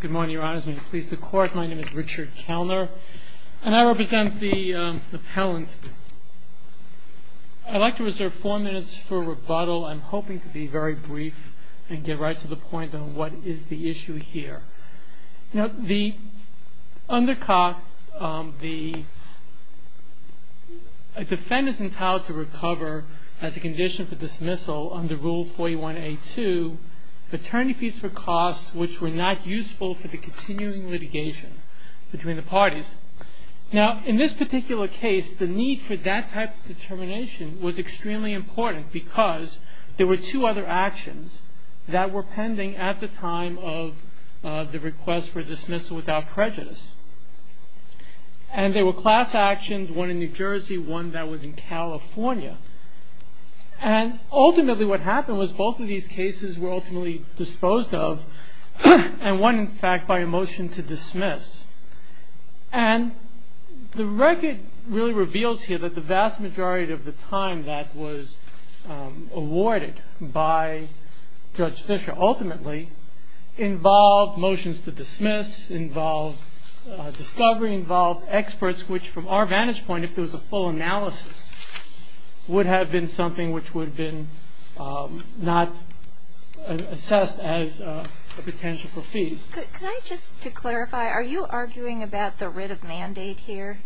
Good morning, Your Honor. My name is Richard Kellner, and I represent the appellant. I'd like to reserve four minutes for rebuttal. I'm hoping to be very brief and get right to the point on what is the issue here. The defendant is entitled to recover as a condition for dismissal under Rule 41A2, paternity fees for costs which were not useful for the continuing litigation between the parties. Now, in this particular case, the need for that type of determination was extremely important because there were two other actions that were pending at the time of the request for dismissal without prejudice. And they were class actions, one in New Jersey, one that was in California. And ultimately what happened was both of these cases were ultimately disposed of, and one, in fact, by a motion to dismiss. And the record really reveals here that the vast majority of the time that was awarded by Judge Fischer ultimately involved motions to dismiss, involved discovery, involved experts which, from our vantage point, if there was a full analysis, would have been something which would have been not assessed as a potential for fees. Can I just, to clarify, are you arguing about the writ of mandate here?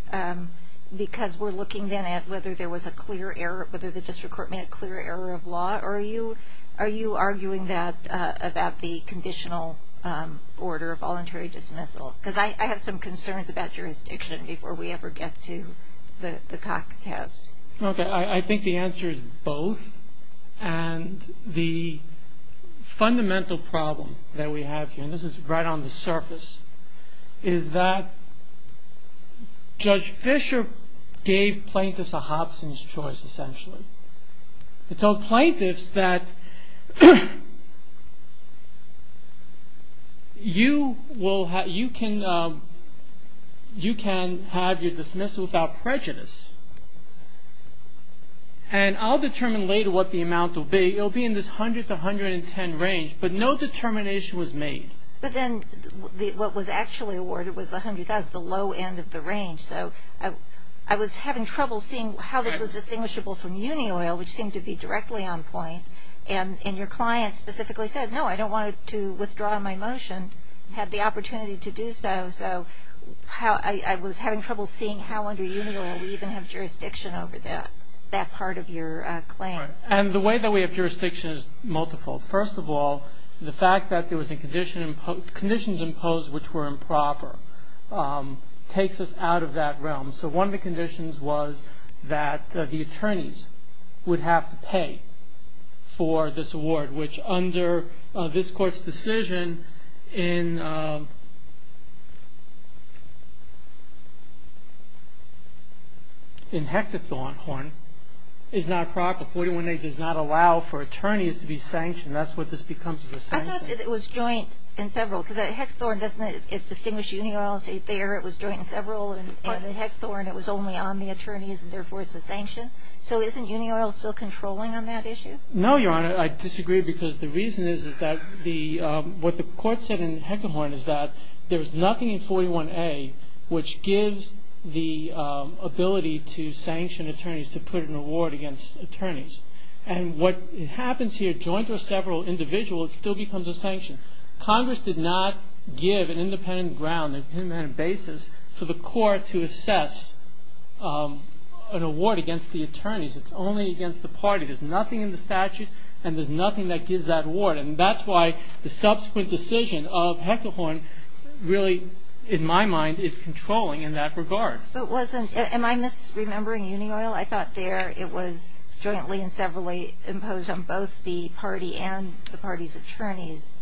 Because we're looking then at whether there was a clear error, whether the district court made a clear error of law, or are you arguing that about the conditional order of voluntary dismissal? Because I have some concerns about jurisdiction before we ever get to the CAC test. Okay, I think the answer is both. And the fundamental problem that we have here, and this is right on the surface, is that Judge Fischer gave plaintiffs a Hobson's choice, essentially. He told plaintiffs that you can have your dismissal without prejudice, and I'll determine later what the amount will be. It will be in this 100 to 110 range, but no determination was made. But then what was actually awarded was the 100,000, the low end of the range. So I was having trouble seeing how this was distinguishable from union oil, which seemed to be directly on point. And your client specifically said, no, I don't want to withdraw my motion, had the opportunity to do so. So I was having trouble seeing how under union oil we even have jurisdiction over that part of your claim. And the way that we have jurisdiction is multiple. First of all, the fact that there was conditions imposed which were improper takes us out of that realm. So one of the conditions was that the attorneys would have to pay for this award, which under this Court's decision in Hechtethorn is not proper. 41A does not allow for attorneys to be sanctioned. That's what this becomes is a sanction. I thought that it was joint in several, because Hechtethorn doesn't distinguish union oil. It's right there. It was joint in several, and in Hechtethorn it was only on the attorneys, and therefore it's a sanction. So isn't union oil still controlling on that issue? No, Your Honor. I disagree because the reason is that what the Court said in Hechtethorn is that there's nothing in 41A which gives the ability to sanction attorneys to put an award against attorneys. And what happens here, joint or several, individual, it still becomes a sanction. Congress did not give an independent ground, an independent basis, for the Court to assess an award against the attorneys. It's only against the party. There's nothing in the statute, and there's nothing that gives that award. And that's why the subsequent decision of Hechtethorn really, in my mind, is controlling in that regard. But wasn't – am I misremembering union oil? I thought there it was jointly and severally imposed on both the party and the party's attorneys.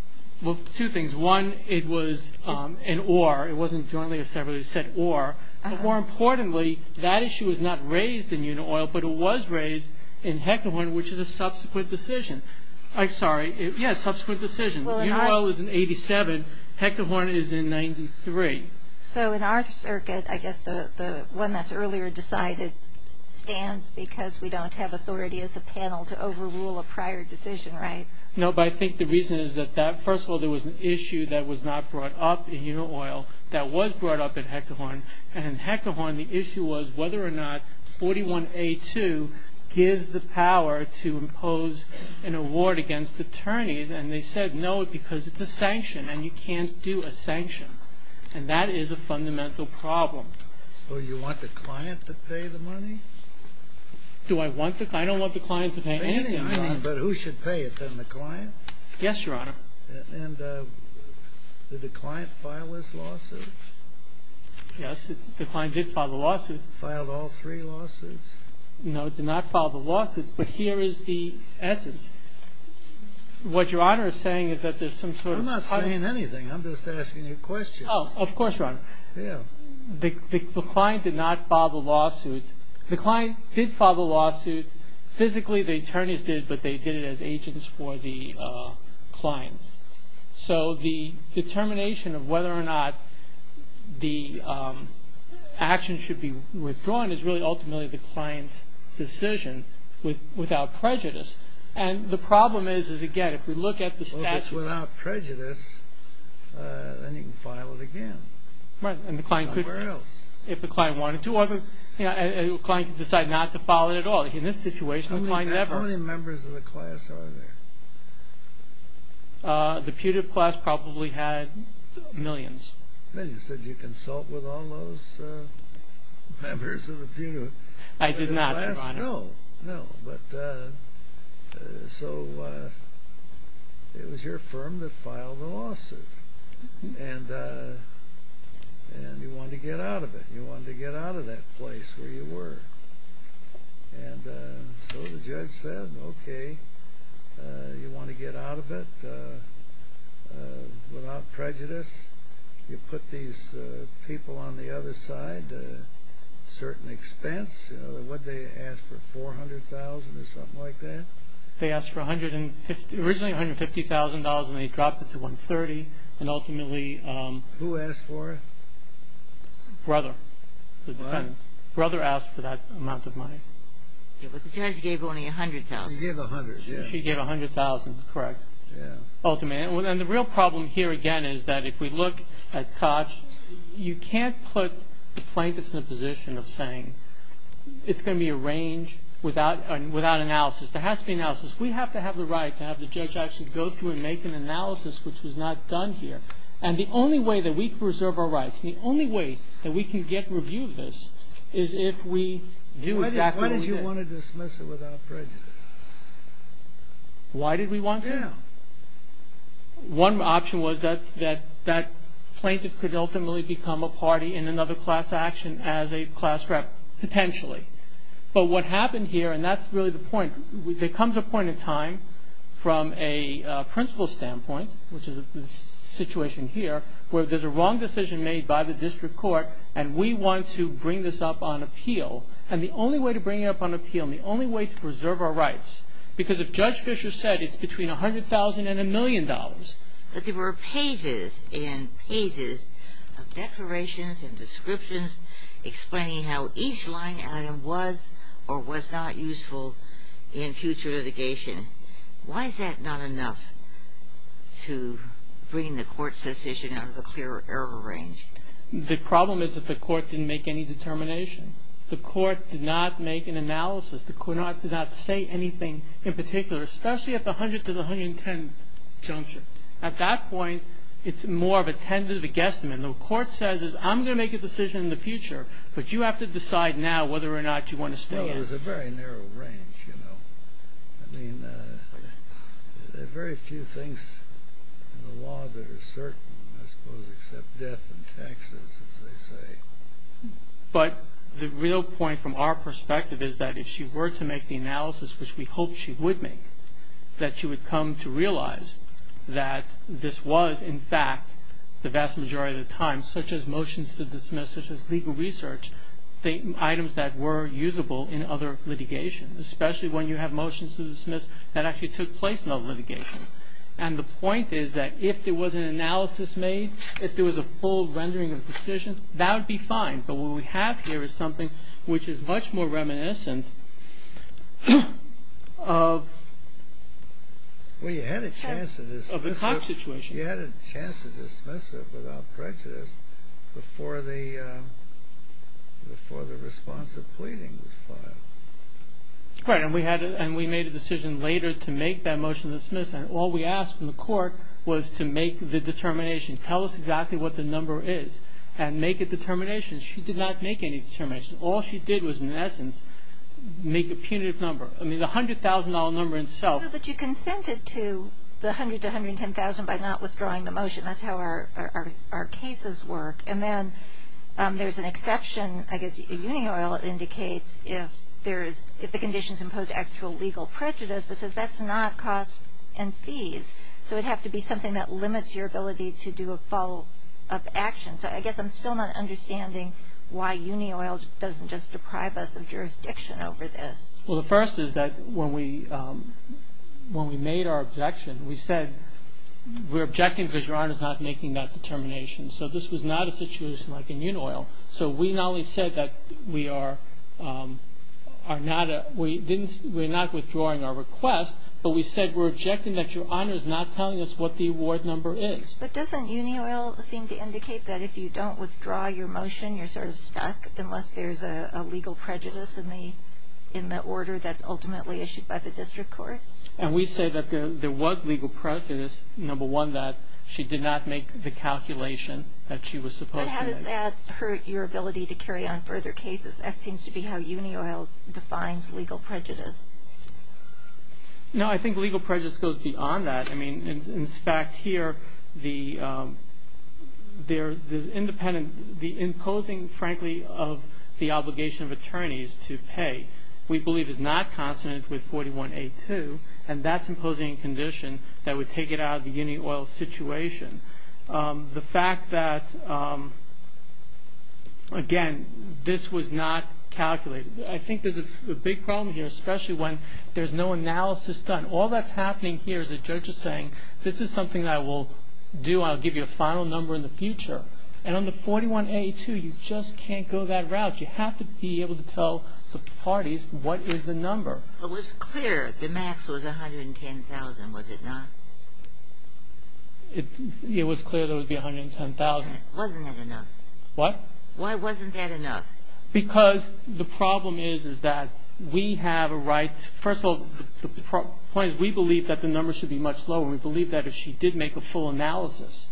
Well, two things. One, it was an or. It wasn't jointly or severally. It said or. But more importantly, that issue was not raised in union oil, but it was raised in Hechtethorn, which is a subsequent decision. I'm sorry. Yes, subsequent decision. Union oil is in 87. Hechtethorn is in 93. So in our circuit, I guess the one that's earlier decided stands because we don't have authority as a panel to overrule a prior decision, right? No, but I think the reason is that first of all, there was an issue that was not brought up in union oil that was brought up in Hechtethorn. And in Hechtethorn, the issue was whether or not 41A2 gives the power to impose an award against attorneys. And they said no because it's a sanction, and you can't do a sanction. And that is a fundamental problem. Well, do you want the client to pay the money? Do I want the – I don't want the client to pay any money. But who should pay it, then, the client? Yes, Your Honor. And did the client file this lawsuit? Yes, the client did file the lawsuit. Filed all three lawsuits? No, did not file the lawsuits. But here is the essence. What Your Honor is saying is that there's some sort of – I'm not saying anything. I'm just asking you questions. Oh, of course, Your Honor. Yeah. The client did not file the lawsuit. The client did file the lawsuit. Physically, the attorneys did, but they did it as agents for the client. So the determination of whether or not the action should be withdrawn is really ultimately the client's decision without prejudice. And the problem is, again, if we look at the statute. Well, if it's without prejudice, then you can file it again. Right. Somewhere else. If the client wanted to. Well, the client could decide not to file it at all. In this situation, the client never. How many members of the class are there? The putative class probably had millions. Millions. Did you consult with all those members of the putative class? I did not, Your Honor. No. No. But so it was your firm that filed the lawsuit. And you wanted to get out of it. You wanted to get out of that place where you were. And so the judge said, okay, you want to get out of it without prejudice? You put these people on the other side at a certain expense. What did they ask for, $400,000 or something like that? They asked for originally $150,000, and they dropped it to $130,000. And ultimately... Who asked for it? Brother. What? The defendant. Brother asked for that amount of money. But the judge gave only $100,000. She gave $100,000. She gave $100,000. Correct. Ultimately. And the real problem here, again, is that if we look at Koch, you can't put the plaintiffs in a position of saying it's going to be arranged without analysis. There has to be analysis. We have to have the right to have the judge actually go through and make an analysis, which was not done here. And the only way that we preserve our rights, the only way that we can get review of this, is if we do exactly what we did. Why did you want to dismiss it without prejudice? Why did we want to? Yeah. One option was that that plaintiff could ultimately become a party in another class action as a class rep, potentially. But what happened here, and that's really the point, there comes a point in time from a principle standpoint, which is the situation here, where there's a wrong decision made by the district court, and we want to bring this up on appeal. And the only way to bring it up on appeal and the only way to preserve our rights, because if Judge Fischer said it's between $100,000 and $1 million. But there were pages and pages of declarations and descriptions explaining how each line item was or was not useful in future litigation. Why is that not enough to bring the court's decision out of the clear error range? The problem is that the court didn't make any determination. The court did not make an analysis. The court did not say anything in particular, especially at the $100,000 to the $110,000 juncture. At that point, it's more of a tentative, a guesstimate. And the court says, I'm going to make a decision in the future, but you have to decide now whether or not you want to stay in. Well, there's a very narrow range. I mean, there are very few things in the law that are certain, I suppose, except death and taxes, as they say. But the real point from our perspective is that if she were to make the analysis, which we hoped she would make, that she would come to realize that this was, in fact, the vast majority of the time, such as motions to dismiss, such as legal research, items that were usable in other litigation, especially when you have motions to dismiss that actually took place in other litigation. And the point is that if there was an analysis made, if there was a full rendering of decisions, that would be fine. But what we have here is something which is much more reminiscent of the Cox situation. She had a chance to dismiss it without prejudice before the response of pleading was filed. Right, and we made a decision later to make that motion to dismiss, and all we asked from the court was to make the determination, tell us exactly what the number is, and make a determination. She did not make any determination. All she did was, in essence, make a punitive number. I mean, the $100,000 number itself. So, but you consented to the $100,000 to $110,000 by not withdrawing the motion. That's how our cases work. And then there's an exception, I guess, that Union Oil indicates if the conditions impose actual legal prejudice, but says that's not cost and fees. So it would have to be something that limits your ability to do a follow-up action. So I guess I'm still not understanding why Union Oil doesn't just deprive us of jurisdiction over this. Well, the first is that when we made our objection, we said we're objecting because Your Honor's not making that determination. So this was not a situation like in Union Oil. So we not only said that we are not withdrawing our request, but we said we're objecting that Your Honor's not telling us what the award number is. But doesn't Union Oil seem to indicate that if you don't withdraw your motion, you're sort of stuck unless there's a legal prejudice in the order that's ultimately issued by the district court? And we say that there was legal prejudice, number one, that she did not make the calculation that she was supposed to make. But how does that hurt your ability to carry on further cases? That seems to be how Union Oil defines legal prejudice. No, I think legal prejudice goes beyond that. I mean, in fact, here, the imposing, frankly, of the obligation of attorneys to pay, we believe is not consonant with 41A2, and that's imposing a condition that would take it out of the Union Oil situation. The fact that, again, this was not calculated. I think there's a big problem here, especially when there's no analysis done. And all that's happening here is the judge is saying, this is something I will do, I'll give you a final number in the future. And on the 41A2, you just can't go that route. You have to be able to tell the parties what is the number. It was clear the max was 110,000, was it not? It was clear there would be 110,000. Wasn't that enough? What? Why wasn't that enough? Because the problem is that we have a right, first of all, the point is we believe that the number should be much lower. We believe that if she did make a full analysis,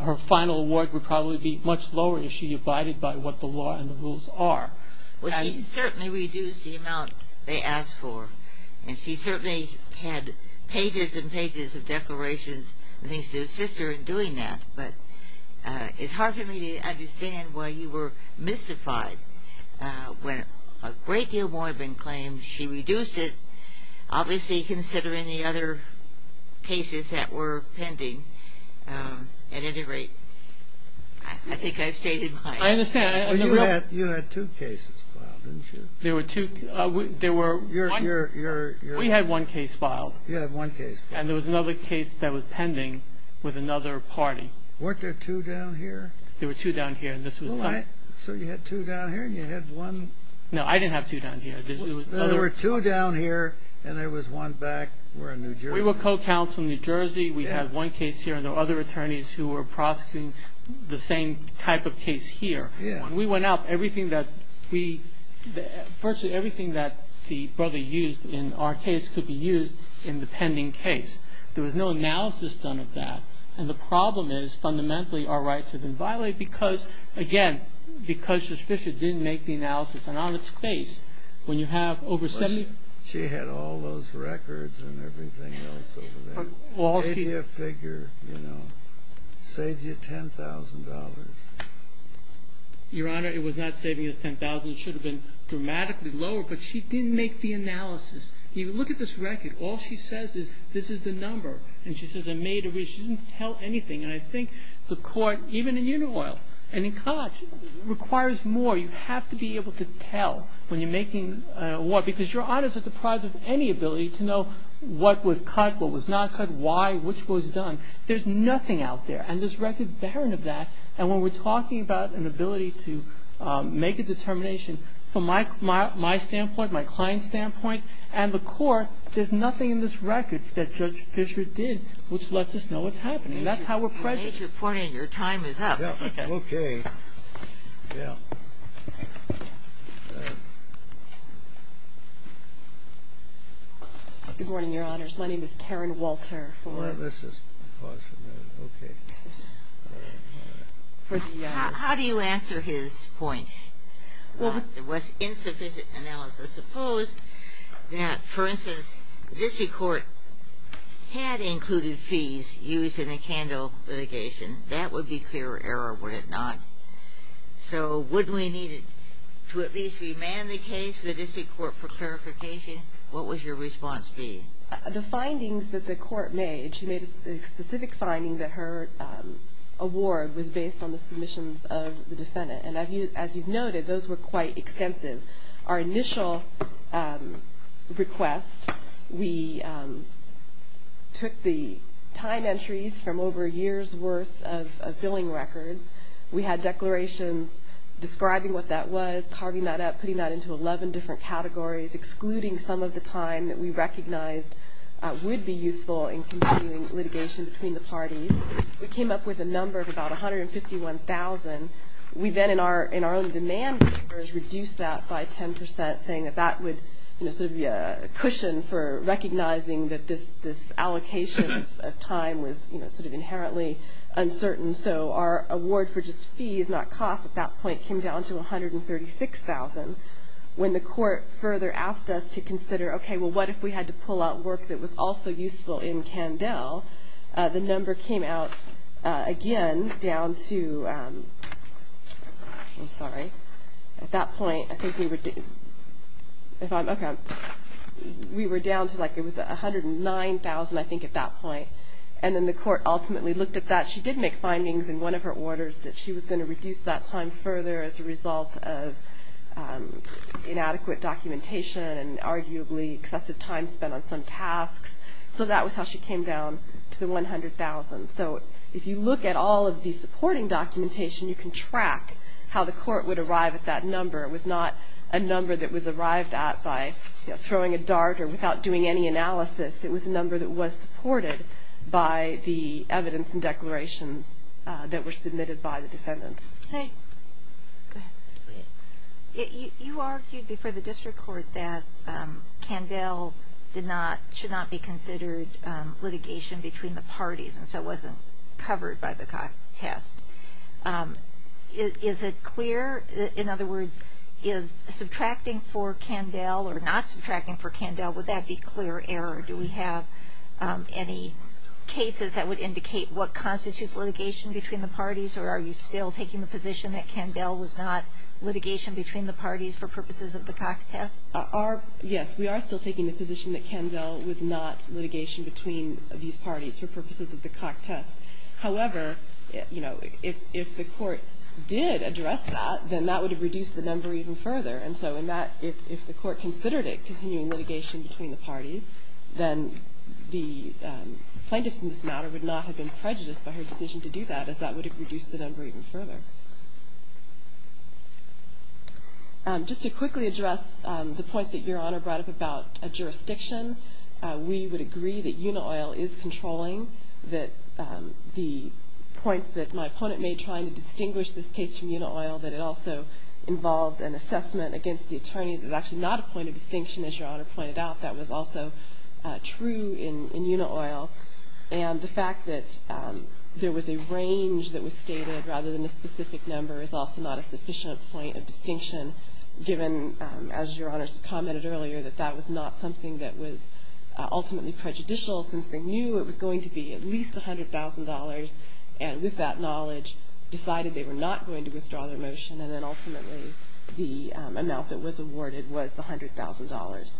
her final award would probably be much lower if she abided by what the law and the rules are. Well, she certainly reduced the amount they asked for. And she certainly had pages and pages of declarations and things to assist her in doing that. But it's hard for me to understand why you were mystified when a great deal more had been claimed. She reduced it, obviously considering the other cases that were pending. At any rate, I think I've stated my answer. I understand. You had two cases filed, didn't you? There were two. We had one case filed. You had one case filed. And there was another case that was pending with another party. Weren't there two down here? There were two down here. So you had two down here and you had one? No, I didn't have two down here. There were two down here and there was one back. We're in New Jersey. We were co-counsel in New Jersey. We had one case here and there were other attorneys who were prosecuting the same type of case here. When we went out, virtually everything that the brother used in our case could be used in the pending case. There was no analysis done of that. And the problem is fundamentally our rights have been violated because, again, because Judge Fischer didn't make the analysis. And on its face, when you have over 70- She had all those records and everything else over there. All she- Save you a figure, you know. Save you $10,000. Your Honor, it was not saving us $10,000. It should have been dramatically lower, but she didn't make the analysis. Look at this record. All she says is this is the number. And she says I made a- She didn't tell anything. And I think the Court, even in Unioil and in Koch, requires more. You have to be able to tell when you're making a war because Your Honors are deprived of any ability to know what was cut, what was not cut, why, which was done. There's nothing out there. And this record is barren of that. And when we're talking about an ability to make a determination from my standpoint, my client's standpoint, and the Court, there's nothing in this record that Judge Fischer did which lets us know what's happening. That's how we're prejudiced. Your time is up. Okay. Yeah. Good morning, Your Honors. My name is Karen Walter. Well, let's just pause for a minute. Okay. All right. All right. How do you answer his point? Well, it was insufficient analysis. Suppose that, for instance, the district court had included fees used in a CANDEL litigation. That would be clear error, would it not? So wouldn't we need to at least remand the case to the district court for clarification? What would your response be? The findings that the court made, she made a specific finding that her award was based on the submissions of the defendant. And as you've noted, those were quite extensive. Our initial request, we took the time entries from over a year's worth of billing records. We had declarations describing what that was, carving that up, putting that into 11 different categories, excluding some of the time that we recognized would be useful in continuing litigation between the parties. We came up with a number of about 151,000. We then, in our own demand papers, reduced that by 10 percent, saying that that would sort of be a cushion for recognizing that this allocation of time was sort of inherently uncertain. So our award for just fees, not costs, at that point came down to 136,000. When the court further asked us to consider, okay, well, what if we had to pull out work that was also useful in CANDEL? The number came out, again, down to, I'm sorry. At that point, I think we were down to, like, it was 109,000, I think, at that point. And then the court ultimately looked at that. She did make findings in one of her orders that she was going to reduce that time further as a result of inadequate documentation and arguably excessive time spent on some tasks. So that was how she came down to the 100,000. So if you look at all of the supporting documentation, you can track how the court would arrive at that number. It was not a number that was arrived at by throwing a dart or without doing any analysis. It was a number that was supported by the evidence and declarations that were submitted by the defendants. Go ahead. You argued before the district court that CANDEL should not be considered litigation between the parties and so it wasn't covered by the test. Is it clear? In other words, is subtracting for CANDEL or not subtracting for CANDEL, would that be clear error? Do we have any cases that would indicate what constitutes litigation between the parties or are you still taking the position that CANDEL was not litigation between the parties for purposes of the CAC test? Yes. We are still taking the position that CANDEL was not litigation between these parties for purposes of the CAC test. However, you know, if the court did address that, then that would have reduced the number even further. And so in that, if the court considered it continuing litigation between the parties, then the plaintiffs in this matter would not have been prejudiced by her decision to do that as that would have reduced the number even further. Just to quickly address the point that Your Honor brought up about a jurisdiction, we would agree that UNOIL is controlling. The points that my opponent made trying to distinguish this case from UNOIL, that it also involved an assessment against the attorneys, is actually not a point of distinction as Your Honor pointed out. That was also true in UNOIL. And the fact that there was a range that was stated rather than a specific number is also not a sufficient point of distinction given, as Your Honor commented earlier, that that was not something that was ultimately prejudicial since they knew it was going to be at least $100,000 and with that knowledge decided they were not going to withdraw their motion and then ultimately the amount that was awarded was the $100,000.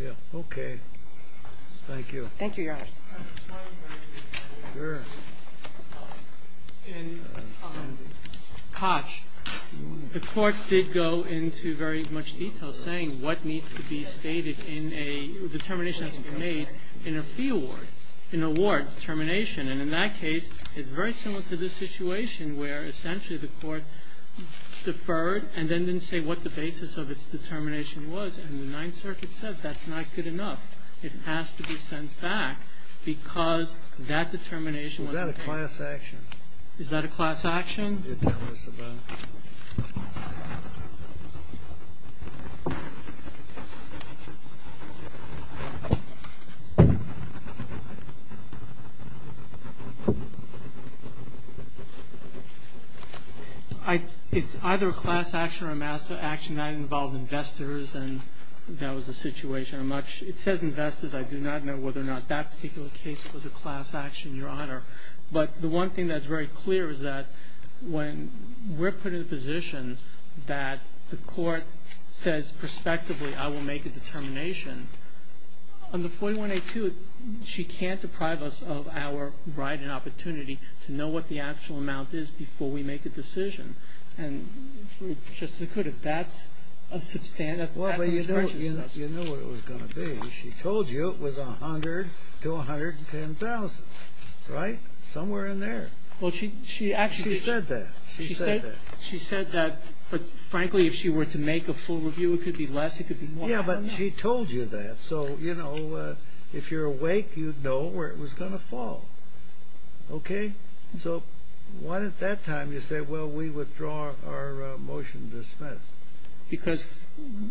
Yeah. Okay. Thank you. Thank you, Your Honor. Sure. In Koch, the court did go into very much detail saying what needs to be stated in a determination that's been made in a fee award, an award determination. And in that case, it's very similar to this situation where essentially the court deferred and then didn't say what the basis of its determination was. And the Ninth Circuit said that's not good enough. It has to be sent back because that determination was made. Is that a class action? Is that a class action? You're telling us about. Okay. It's either a class action or a master action. That involved investors and that was the situation. It says investors. I do not know whether or not that particular case was a class action, Your Honor. But the one thing that's very clear is that when we're put in a position that the court says prospectively I will make a determination, under 4182 she can't deprive us of our right and opportunity to know what the actual amount is before we make a decision. And just as it could have, that's a substantial. Well, but you know what it was going to be. She told you it was $100,000 to $110,000, right? Somewhere in there. Well, she actually did. She said that. She said that. She said that. But, frankly, if she were to make a full review it could be less, it could be more. Yeah, but she told you that. So, you know, if you're awake you'd know where it was going to fall. So why at that time did you say, well, we withdraw our motion to dismiss? Because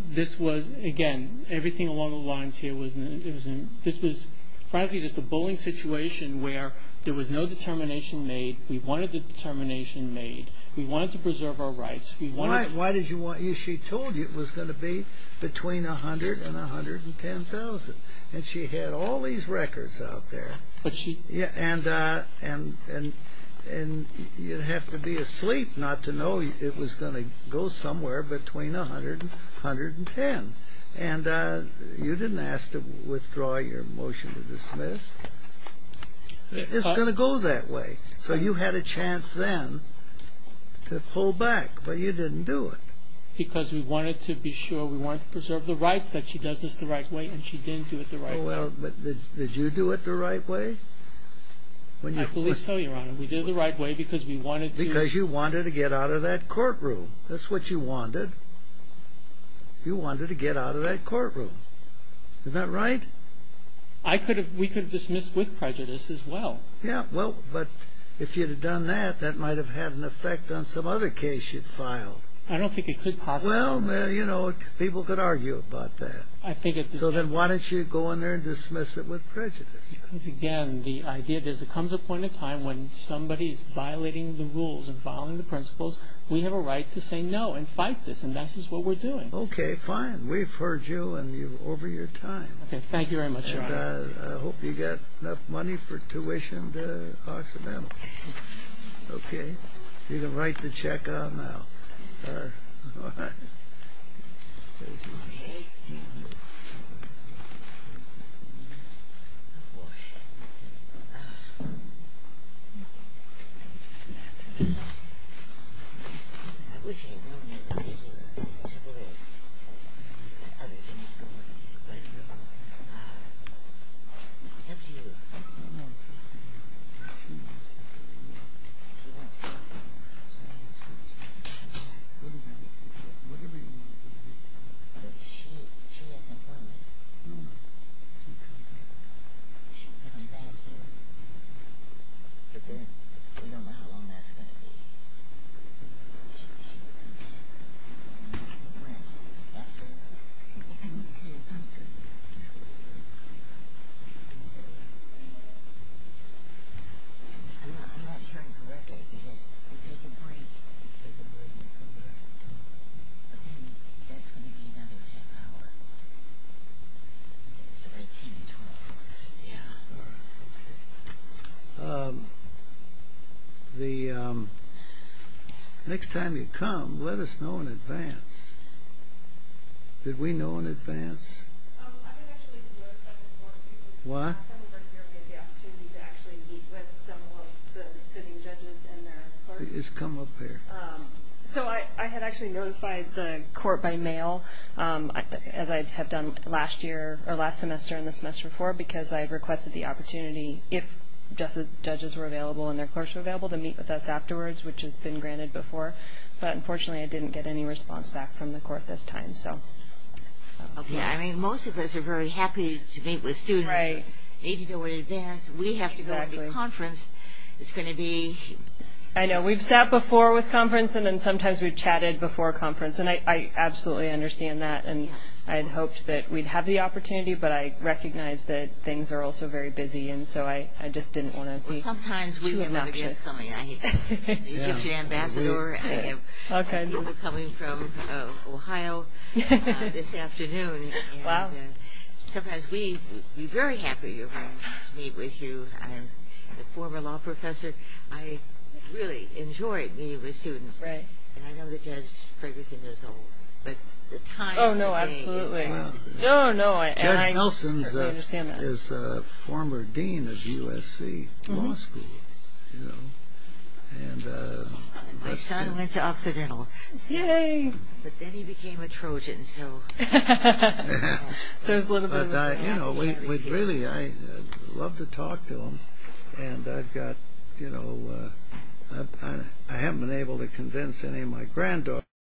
this was, again, everything along the lines here, this was frankly just a bullying situation where there was no determination made. We wanted the determination made. We wanted to preserve our rights. Why did she want you? She told you it was going to be between $100,000 and $110,000. And she had all these records out there. And you'd have to be asleep not to know it was going to go somewhere. Between $100,000 and $110,000. And you didn't ask to withdraw your motion to dismiss. It's going to go that way. So you had a chance then to pull back, but you didn't do it. Because we wanted to be sure. We wanted to preserve the rights that she does this the right way, and she didn't do it the right way. Did you do it the right way? I believe so, Your Honor. We did it the right way because we wanted to. Because you wanted to get out of that courtroom. That's what you wanted. You wanted to get out of that courtroom. Isn't that right? We could have dismissed with prejudice as well. Yeah, well, but if you'd have done that, that might have had an effect on some other case you'd filed. I don't think it could possibly. Well, you know, people could argue about that. So then why didn't you go in there and dismiss it with prejudice? Because, again, the idea is there comes a point in time when somebody is violating the rules and following the principles. We have a right to say no and fight this, and that's just what we're doing. Okay, fine. We've heard you, and you're over your time. Okay, thank you very much, Your Honor. And I hope you got enough money for tuition to Occidental. Okay. You have a right to check out now. All right. Okay. Oh, boy. I wish I had known you were going to be here. I wish I could have asked. Is that for you? No, sir. No, sir. She wants something. Whatever you want. She has employment. No, no. She'll pay you back. She'll pay me back. But then we don't know how long that's going to be. I'm not hearing correctly because I'm taking a break. You're taking a break. But then that's going to be another half hour. It's already 10 to 12 o'clock. Yeah. Next time you come, let us know in advance. Did we know in advance? What? Just come up here. So I had actually notified the court by mail, as I have done last semester and the semester before, because I had requested the opportunity, if judges were available and their clerks were available, to meet with us afterwards, which has been granted before. But unfortunately, I didn't get any response back from the court this time. Okay. I mean, most of us are very happy to meet with students 80 days in advance. We have to go to the conference. It's going to be – I know. We've sat before with conference, and then sometimes we've chatted before conference, and I absolutely understand that. And I had hoped that we'd have the opportunity, but I recognize that things are also very busy, and so I just didn't want to be too obnoxious. Well, sometimes we have other guests coming. I have an Egyptian ambassador. I have people coming from Ohio this afternoon. Wow. And sometimes we'd be very happy to meet with you. I'm a former law professor. I really enjoy meeting with students. And I know the judge Ferguson is old. Oh, no, absolutely. Oh, no. Judge Nelson is a former dean of USC Law School. My son went to Occidental. Yay. But then he became a Trojan, so. There's a little bit of that. Really, I love to talk to them, and I haven't been able to convince any of my granddaughters.